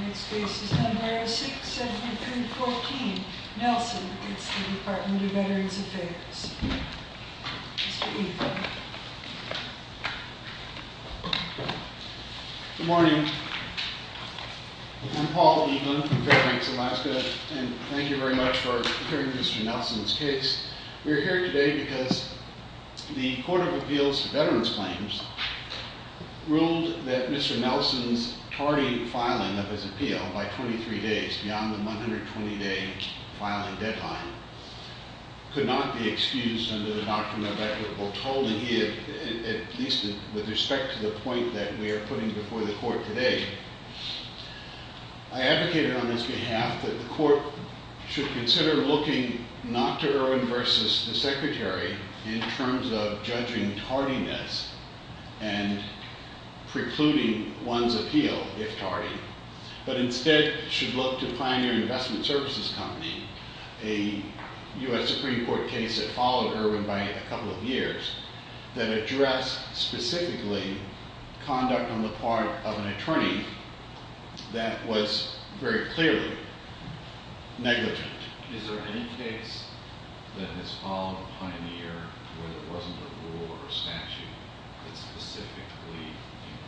Next case is number 06-7314, Nelson. It's the Department of Veterans Affairs. Good morning. I'm Paul Eaglin from Fairbanks, Alaska, and thank you very much for hearing Mr. Nelson's case. We are here today because the Court of Appeals for Veterans Claims ruled that Mr. Nelson's tardy filing of his appeal by 23 days, beyond the 120-day filing deadline, could not be excused under the doctrine of equitable tolling, at least with respect to the point that we are putting before the Court today. I advocated on this behalf that the Court should consider looking not to Irwin v. the Secretary in terms of judging tardiness and precluding one's appeal, if tardy, but instead should look to Pioneer Investment Services Company, a U.S. Supreme Court case that followed Irwin by a couple of years, that addressed specifically conduct on the part of an attorney that was very clearly negligent. Is there any case that has followed Pioneer where there wasn't a rule or statute that specifically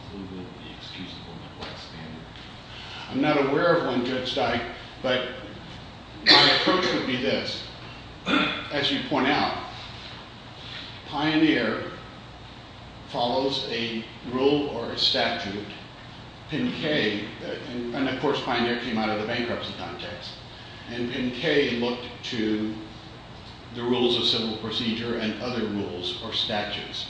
included the excusable neglect standard? I'm not aware of one, Judge Dike, but my approach would be this. As you point out, Pioneer follows a rule or a statute. PIN-K, and of course Pioneer came out of the bankruptcy context, and PIN-K looked to the rules of civil procedure and other rules or statutes.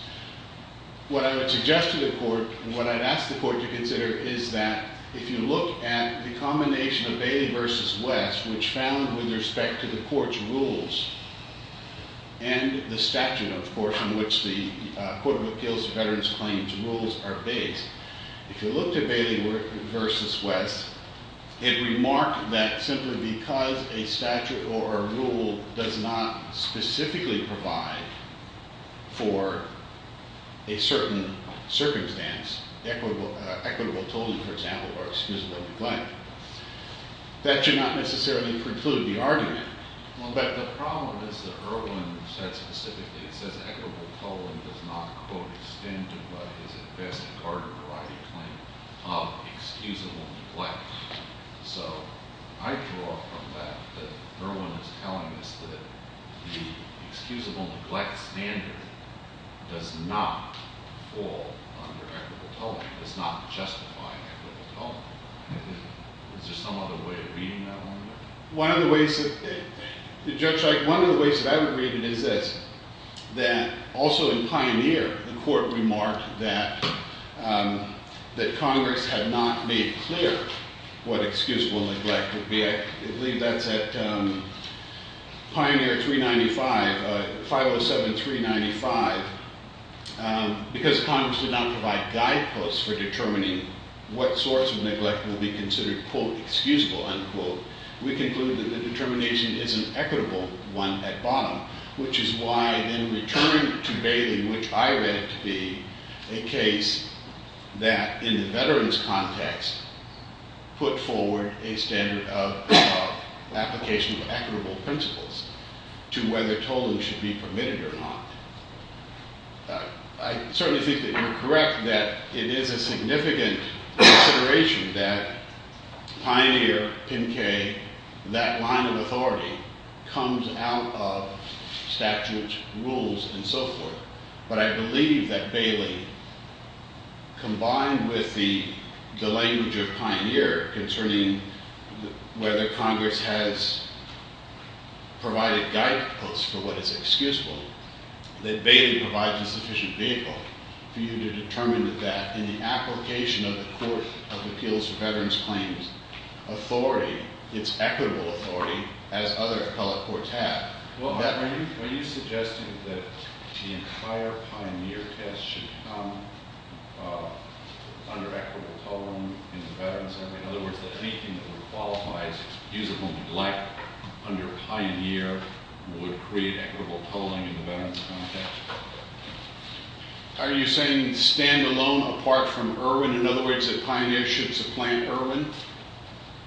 What I would suggest to the Court and what I'd ask the Court to consider is that if you look at the combination of Bailey v. West, which found with respect to the Court's rules and the statute, of course, in which the Court of Appeals to Veterans Claims rules are based, if you look to Bailey v. West, it remarked that simply because a statute or a rule does not specifically provide for a certain circumstance, equitable tolling, for example, or excusable neglect, that should not necessarily preclude the argument. Well, but the problem is that Irwin said specifically, it says equitable tolling does not quote, extend to what is at best a card-provided claim of excusable neglect. So I draw from that that Irwin is telling us that the excusable neglect standard does not fall under equitable tolling, does not justify equitable tolling. Is there some other way of reading that one? One of the ways that I would read it is this, that also in Pioneer, the Court remarked that what excusable neglect would be, I believe that's at Pioneer 395, 507-395, because Congress did not provide guideposts for determining what sorts of neglect would be considered quote, excusable, unquote. We conclude that the determination is an equitable one at bottom, which is why in return to Bailey, which I read to be a case that in the veteran's context put forward a standard of application of equitable principles to whether tolling should be permitted or not. I certainly think that you're correct that it is a significant consideration that Pioneer, that line of authority comes out of statutes, rules, and so forth. But I believe that Bailey, combined with the language of Pioneer concerning whether Congress has provided guideposts for what is excusable, that Bailey provides a sufficient vehicle for you to determine that in the application of the Court of Appeals for Veterans Claims, the authority, its equitable authority, as other colored courts have. Are you suggesting that the entire Pioneer test should come under equitable tolling in the veterans' context? In other words, that anything that would qualify as excusable neglect under Pioneer would create equitable tolling in the veterans' context? Are you saying standalone apart from Irwin? In other words, that Pioneer should supplant Irwin?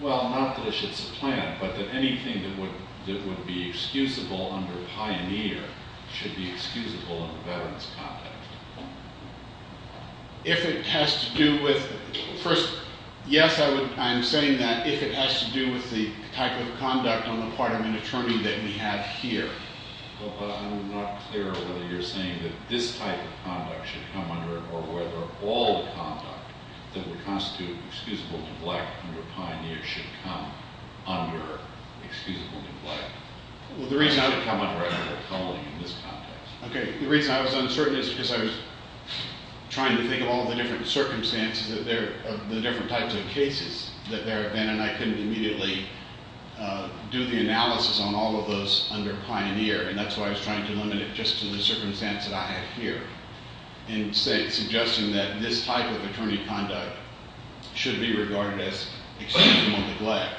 Well, not that it should supplant, but that anything that would be excusable under Pioneer should be excusable under the veterans' context. If it has to do with, first, yes, I'm saying that if it has to do with the type of conduct on the part of an attorney that we have here. Well, I'm not clear whether you're saying that this type of conduct should come under it or whether all the conduct that would constitute excusable neglect under Pioneer should come under excusable neglect. Well, the reason I would come under equitable tolling in this context. Okay. The reason I was uncertain is because I was trying to think of all the different circumstances of the different types of cases that there have been, and I couldn't immediately do the analysis on all of those under Pioneer. And that's why I was trying to limit it just to the circumstance that I had here in suggesting that this type of attorney conduct should be regarded as excusable neglect.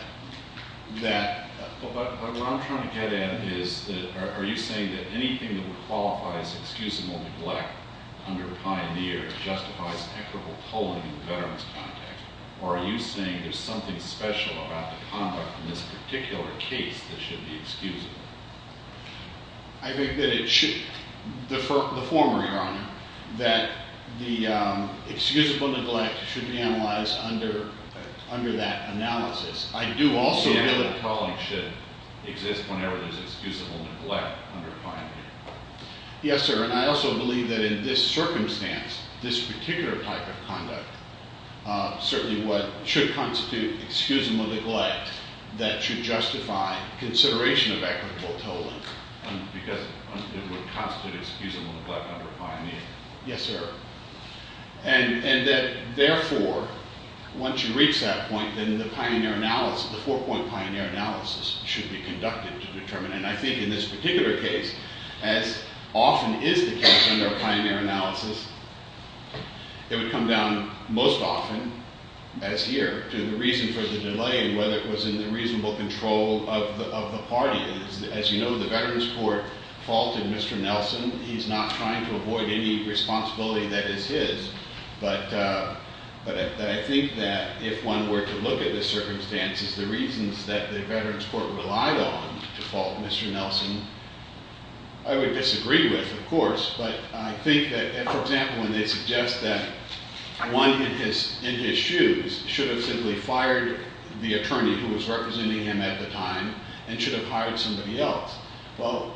What I'm trying to get at is, are you saying that anything that would qualify as excusable neglect under Pioneer justifies equitable tolling in the veterans' context? Or are you saying there's something special about the conduct in this particular case that should be excusable? I think that it should, the former, Your Honor, that the excusable neglect should be analyzed under that analysis. I do also believe that Equitable tolling should exist whenever there's excusable neglect under Pioneer. Yes, sir. And I also believe that in this circumstance, this particular type of conduct, certainly what should constitute excusable neglect, that should justify consideration of equitable tolling. Because it would constitute excusable neglect under Pioneer. Yes, sir. And that, therefore, once you reach that point, then the Pioneer analysis, the four-point Pioneer analysis, should be conducted to determine. And I think in this particular case, as often is the case under Pioneer analysis, it would come down most often, as here, to the reason for the delay and whether it was in the reasonable control of the party. As you know, the veterans' court faulted Mr. Nelson. He's not trying to avoid any responsibility that is his. But I think that if one were to look at the circumstances, the reasons that the veterans' court relied on to fault Mr. Nelson, I would disagree with, of course, but I think that, for example, when they suggest that one in his shoes should have simply fired the attorney who was representing him at the time and should have hired somebody else. Well,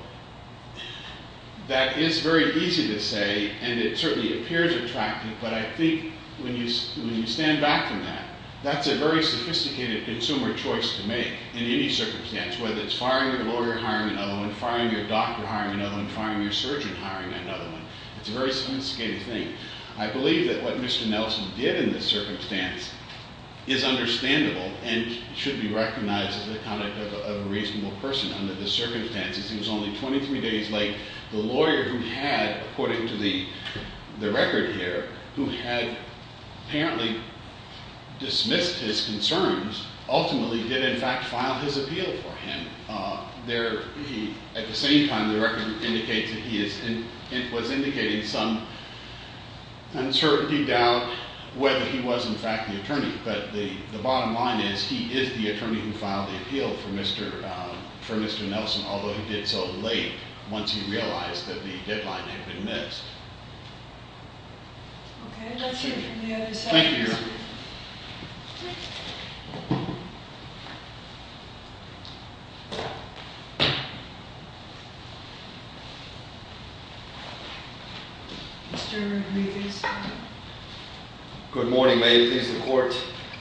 that is very easy to say, and it certainly appears attractive, but I think when you stand back from that, that's a very sophisticated consumer choice to make in any circumstance, whether it's firing your lawyer, hiring another one, firing your doctor, hiring another one, firing your surgeon, hiring another one. It's a very sophisticated thing. I believe that what Mr. Nelson did in this circumstance is understandable and should be recognized as the conduct of a reasonable person under the circumstances. He was only 23 days late. The lawyer who had, according to the record here, who had apparently dismissed his concerns, ultimately did in fact file his appeal for him. At the same time, the record indicates that he was indicating some uncertainty, doubt, whether he was in fact the attorney. But the bottom line is he is the attorney who filed the appeal for Mr. Nelson, although he did so late once he realized that the deadline had been missed. Okay, let's hear from the other side. Thank you, Your Honor. Mr. Rodriguez. Good morning, may it please the Court.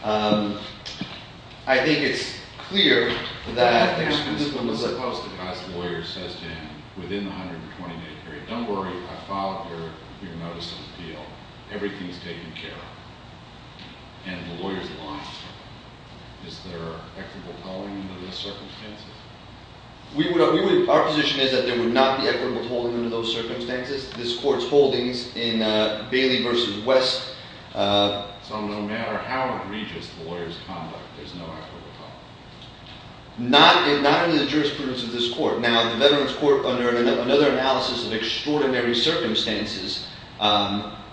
I think it's clear that this one was supposed to pass the lawyer, says Jan, within the 120-day period. Don't worry, I filed your notice of appeal. Everything's taken care of. And the lawyer's lying. Is there equitable tolling under those circumstances? Our position is that there would not be equitable tolling under those circumstances. This Court's holdings in Bailey v. West. So no matter how egregious the lawyer's conduct, there's no equitable tolling? Not in the jurisprudence of this Court. Now, the Veterans Court, under another analysis of extraordinary circumstances,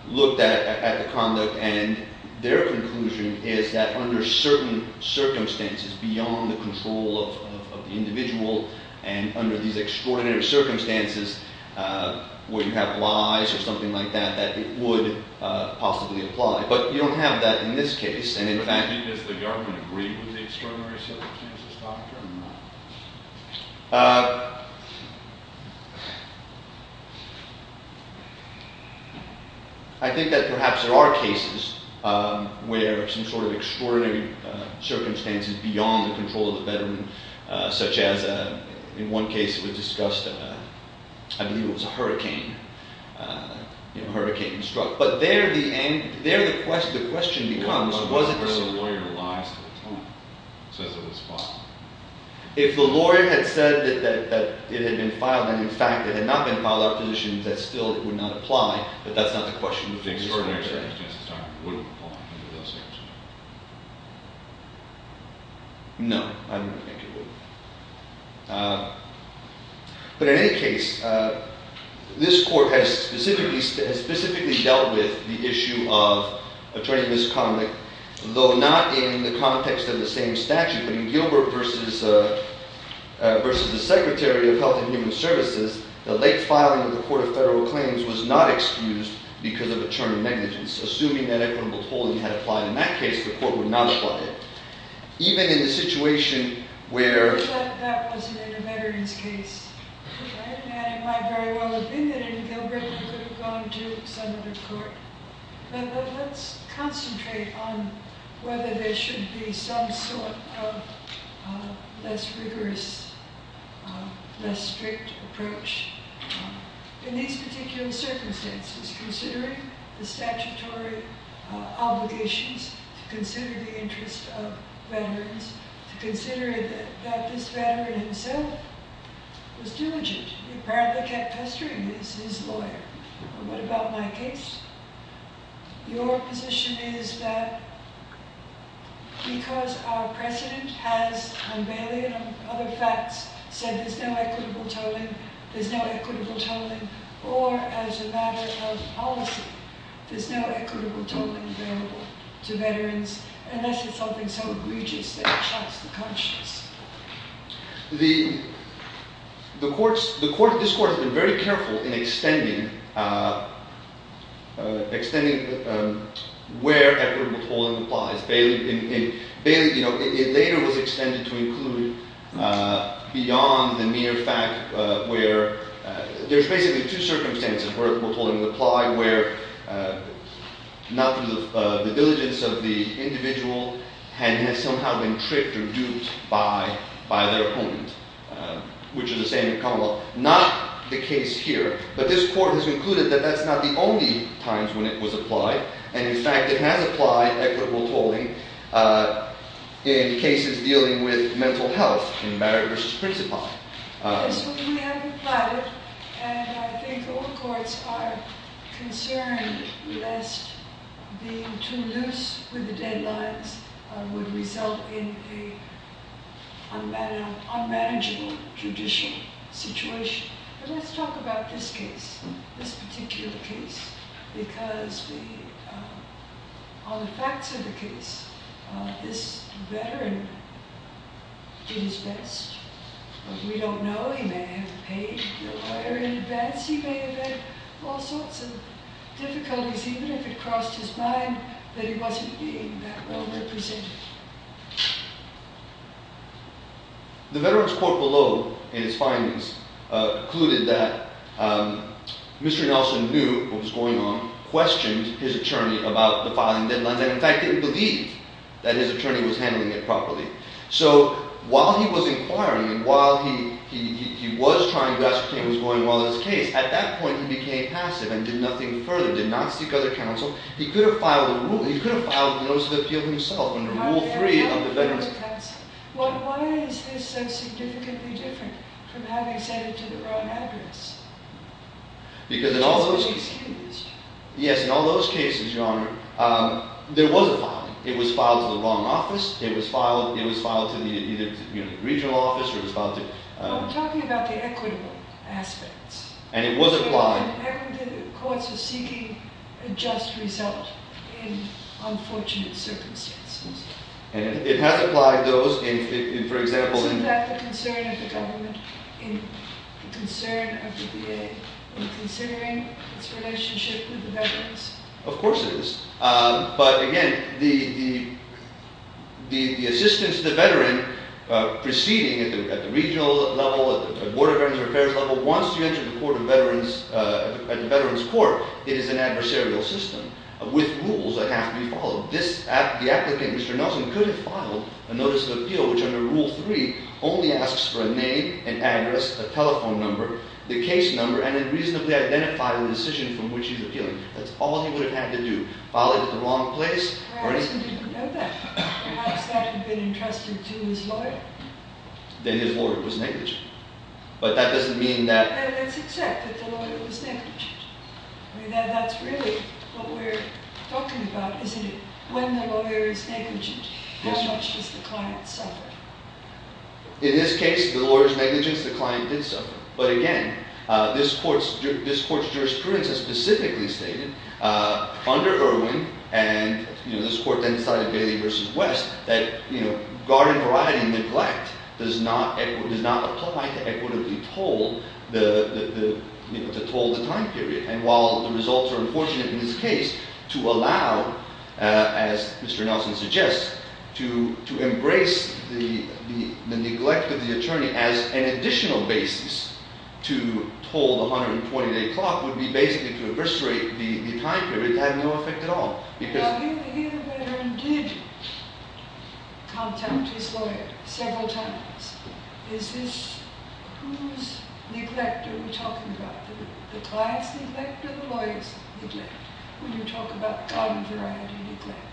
looked at the conduct, and their conclusion is that under certain circumstances beyond the control of the individual and under these extraordinary circumstances where you have lies or something like that, that it would possibly apply. But you don't have that in this case. Does the government agree with the extraordinary circumstances doctrine? I think that perhaps there are cases where some sort of extraordinary circumstances beyond the control of the veteran, such as in one case it was discussed, I believe it was a hurricane, a hurricane struck. But there the question becomes, was it the same? But where the lawyer lies to the time, says it was filed. If the lawyer had said that it had been filed, and in fact it had not been filed, our position is that still it would not apply, but that's not the question. The extraordinary circumstances doctrine wouldn't apply under those circumstances? No, I don't think it would. But in any case, this court has specifically dealt with the issue of attorney misconduct, though not in the context of the same statute. But in Gilbert v. the Secretary of Health and Human Services, the late filing of the Court of Federal Claims was not excused because of attorney negligence. Assuming that equitable polling had applied in that case, the court would not apply it. Even in the situation where... But that wasn't in a veteran's case, right? And it might very well have been in Gilbert. It could have gone to some other court. But let's concentrate on whether there should be some sort of less rigorous, less strict approach. In these particular circumstances, considering the statutory obligations, to consider the interest of veterans, to consider that this veteran himself was diligent. He apparently kept pestering his lawyer. What about my case? Your position is that because our precedent has, on Bailey and other facts, said there's no equitable tolling, there's no equitable tolling, or as a matter of policy, there's no equitable tolling available to veterans, unless it's something so egregious that it shocks the conscience. The court, this court, has been very careful in extending where equitable tolling applies. Bailey, you know, it later was extended to include beyond the mere fact where... There's basically two circumstances where equitable tolling would apply, where not through the diligence of the individual, and has somehow been tricked or duped by their opponent, which is the same in Commonwealth. Not the case here. But this court has concluded that that's not the only times when it was applied. And, in fact, it has applied equitable tolling in cases dealing with mental health, in Barrett v. Principi. Yes, we have applied it, and I think all courts are concerned, lest being too loose with the deadlines would result in an unmanageable judicial situation. But let's talk about this case, this particular case, because on the facts of the case, this veteran did his best. We don't know. He may have paid the lawyer in advance. He may have had all sorts of difficulties, even if it crossed his mind that he wasn't being that well represented. The veteran's court below, in its findings, concluded that Mr. Nelson knew what was going on, questioned his attorney about the filing deadlines, and, in fact, didn't believe that his attorney was handling it properly. So, while he was inquiring, and while he was trying to ascertain what was going on in his case, at that point he became passive and did nothing further, did not seek other counsel. He could have filed a notice of appeal himself, under rules, Why is this so significantly different from having said it to the wrong address? Because in all those cases, Your Honor, there was a filing. It was filed to the wrong office, it was filed to the regional office, or it was filed to... Well, I'm talking about the equitable aspects. And the courts are seeking a just result in unfortunate circumstances. Isn't that the concern of the government, the concern of the VA, in considering its relationship with the veterans? At the veteran's court, it is an adversarial system, with rules that have to be followed. The applicant, Mr. Nelson, could have filed a notice of appeal, which under Rule 3, only asks for a name, an address, a telephone number, the case number, and a reasonably identifiable decision from which he's appealing. That's all he would have had to do. File it at the wrong place, or... Perhaps he didn't know that. Perhaps that would have been entrusted to his lawyer. Then his lawyer was negligent. But that doesn't mean that... Let's accept that the lawyer was negligent. That's really what we're talking about, isn't it? When the lawyer is negligent, how much does the client suffer? In this case, the lawyer's negligence, the client did suffer. But again, this court's jurisprudence has specifically stated, under Irwin, and this court then decided, Bailey v. West, that garden variety neglect does not apply to equitably toll the time period. And while the results are unfortunate in this case, to allow, as Mr. Nelson suggests, to embrace the neglect of the attorney as an additional basis to toll the 120-day clock would be basically to incarcerate the time period to have no effect at all. Now, here the veteran did contact his lawyer several times. Is this whose neglect are we talking about? The client's neglect or the lawyer's neglect? When you talk about garden variety neglect.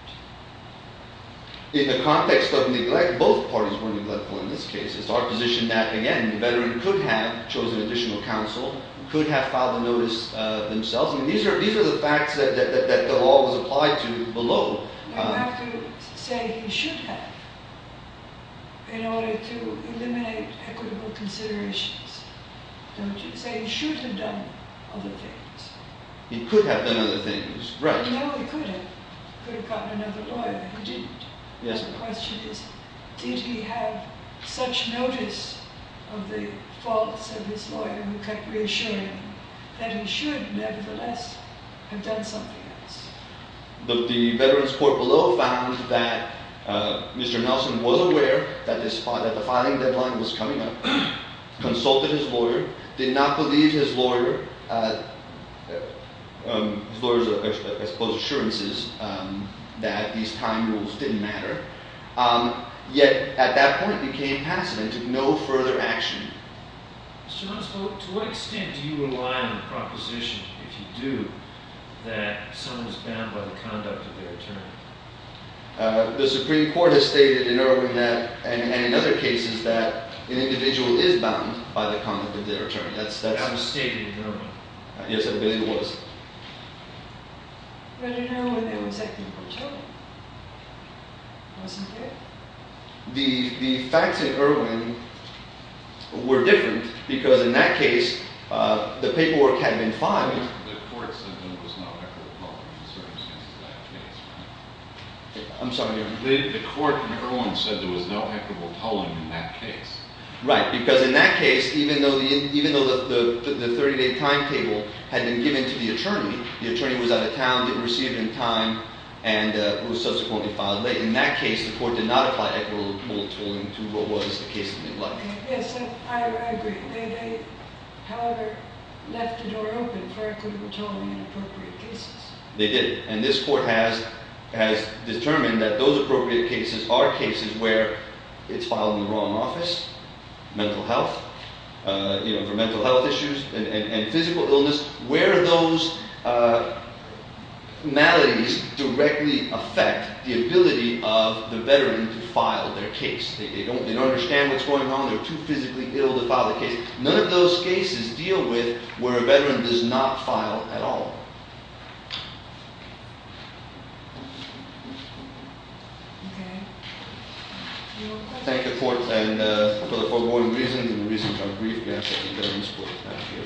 In the context of neglect, both parties were neglectful in this case. It's our position that, again, the veteran could have chosen additional counsel, could have filed a notice themselves. I mean, these are the facts that the law was applied to below. You have to say he should have in order to eliminate equitable considerations. Don't you? Say he should have done other things. He could have done other things, right. No, he could have. He could have gotten another lawyer. He didn't. The question is, did he have such notice of the faults of his lawyer who kept reassuring him that he should, nevertheless, have done something else? The veteran's court below found that Mr. Nelson was aware that the filing deadline was coming up, consulted his lawyer, did not believe his lawyer. His lawyers, I suppose, assurances that these time rules didn't matter. Yet at that point, he came past it and took no further action. Mr. Nelson, to what extent do you rely on the proposition, if you do, that someone is bound by the conduct of their attorney? The Supreme Court has stated in Irwin that, and in other cases, that an individual is bound by the conduct of their attorney. That was stated in Irwin. Yes, I believe it was. But in Irwin, it was acting for children, wasn't it? The facts in Irwin were different, because in that case, the paperwork had been filed. The court said there was no equitable tolling in that case. I'm sorry. The court in Irwin said there was no equitable tolling in that case. Right, because in that case, even though the 30-day timetable had been given to the attorney, the attorney was out of town, didn't receive it in time, and was subsequently filed late. In that case, the court did not apply equitable tolling to what was the case of Midlife. Yes, I agree. They, however, left the door open for equitable tolling in appropriate cases. They did. And this court has determined that those appropriate cases are cases where it's filed in the wrong office, mental health, you know, for mental health issues and physical illness, where those maladies directly affect the ability of the veteran to file their case. They don't understand what's going on. They're too physically ill to file the case. None of those cases deal with where a veteran does not file at all. Okay. Any more questions? Thank you, court, for the foregoing reasons, and the reasons I'm briefly asking for. Thank you.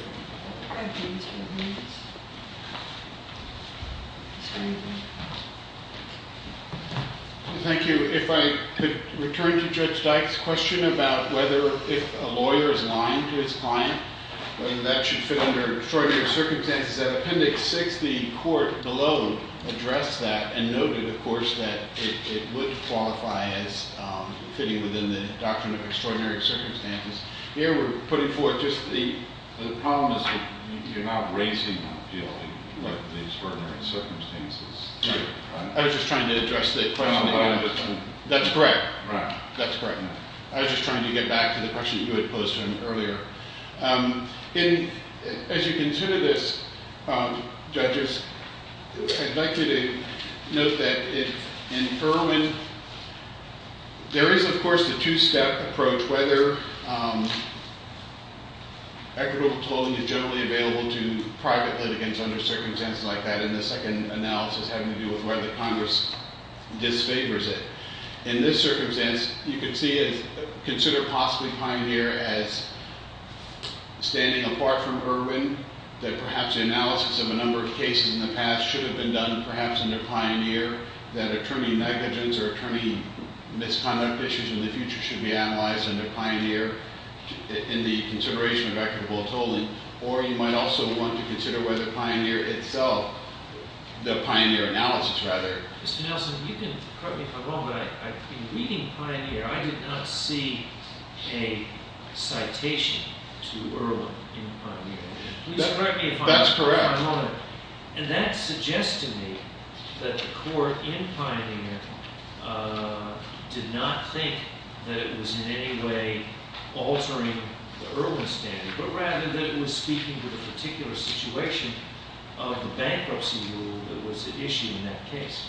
Thank you. If I could return to Judge Dyke's question about whether if a lawyer is lying to his client, whether that should fit under extraordinary circumstances. As I said, Appendix 6, the court below addressed that and noted, of course, that it would qualify as fitting within the doctrine of extraordinary circumstances. Here we're putting forth just the problem is that you're not raising the field of extraordinary circumstances. I was just trying to address the question. That's correct. Right. That's correct. I was just trying to get back to the question you had posed earlier. As you consider this, judges, I'd like you to note that in Furman, there is, of course, the two-step approach, whether equitable tolling is generally available to private litigants under circumstances like that, and the second analysis having to do with whether Congress disfavors it. In this circumstance, you can consider possibly Pioneer as standing apart from Irwin, that perhaps the analysis of a number of cases in the past should have been done perhaps under Pioneer, that attorney negligence or attorney misconduct issues in the future should be analyzed under Pioneer in the consideration of equitable tolling, or you might also want to consider whether Pioneer itself, the Pioneer analysis, rather. Mr. Nelson, you can correct me if I'm wrong, but in reading Pioneer, I did not see a citation to Irwin in Pioneer. Please correct me if I'm wrong. That's correct. And that suggests to me that the court in Pioneer did not think that it was in any way altering the Irwin standard, but rather that it was speaking to the particular situation of the bankruptcy rule that was at issue in that case.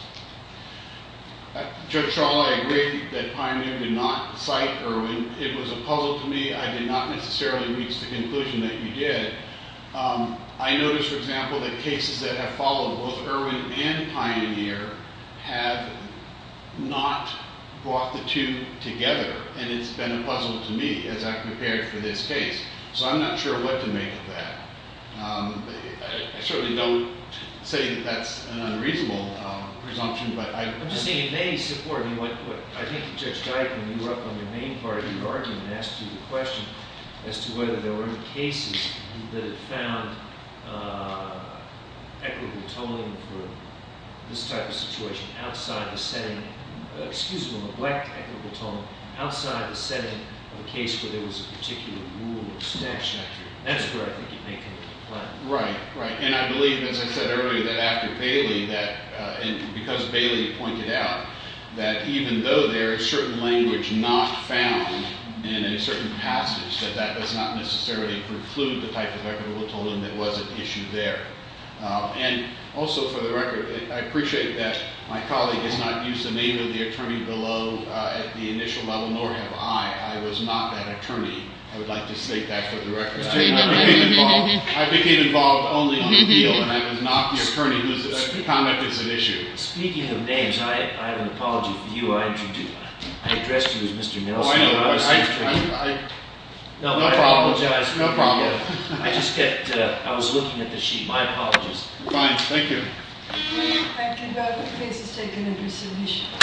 Judge Schall, I agree that Pioneer did not cite Irwin. It was a puzzle to me. I did not necessarily reach the conclusion that you did. I noticed, for example, that cases that have followed both Irwin and Pioneer have not brought the two together, and it's been a puzzle to me as I've prepared for this case. So I'm not sure what to make of that. I certainly don't say that that's an unreasonable presumption, but I— I'm just saying in many support of what I think Judge Dike, when you were up on the main part of your argument, asked you the question as to whether there were any cases that had found equitable tolling for this type of situation outside the setting— That's where I think you're making the point. Right, right. And I believe, as I said earlier, that after Bailey, that— because Bailey pointed out that even though there is certain language not found in a certain passage, that that does not necessarily preclude the type of equitable tolling that was at issue there. And also, for the record, I appreciate that my colleague has not used the name of the attorney below at the initial level, nor have I. I was not that attorney. I would like to state that for the record. I became involved only on appeal, and I was not the attorney whose conduct is at issue. Speaking of names, I have an apology for you. I addressed you as Mr. Nelson. Oh, I know, but I— No, I apologize. No problem. I just kept—I was looking at the sheet. My apologies. Fine. Thank you. Thank you. The case is taken into submission.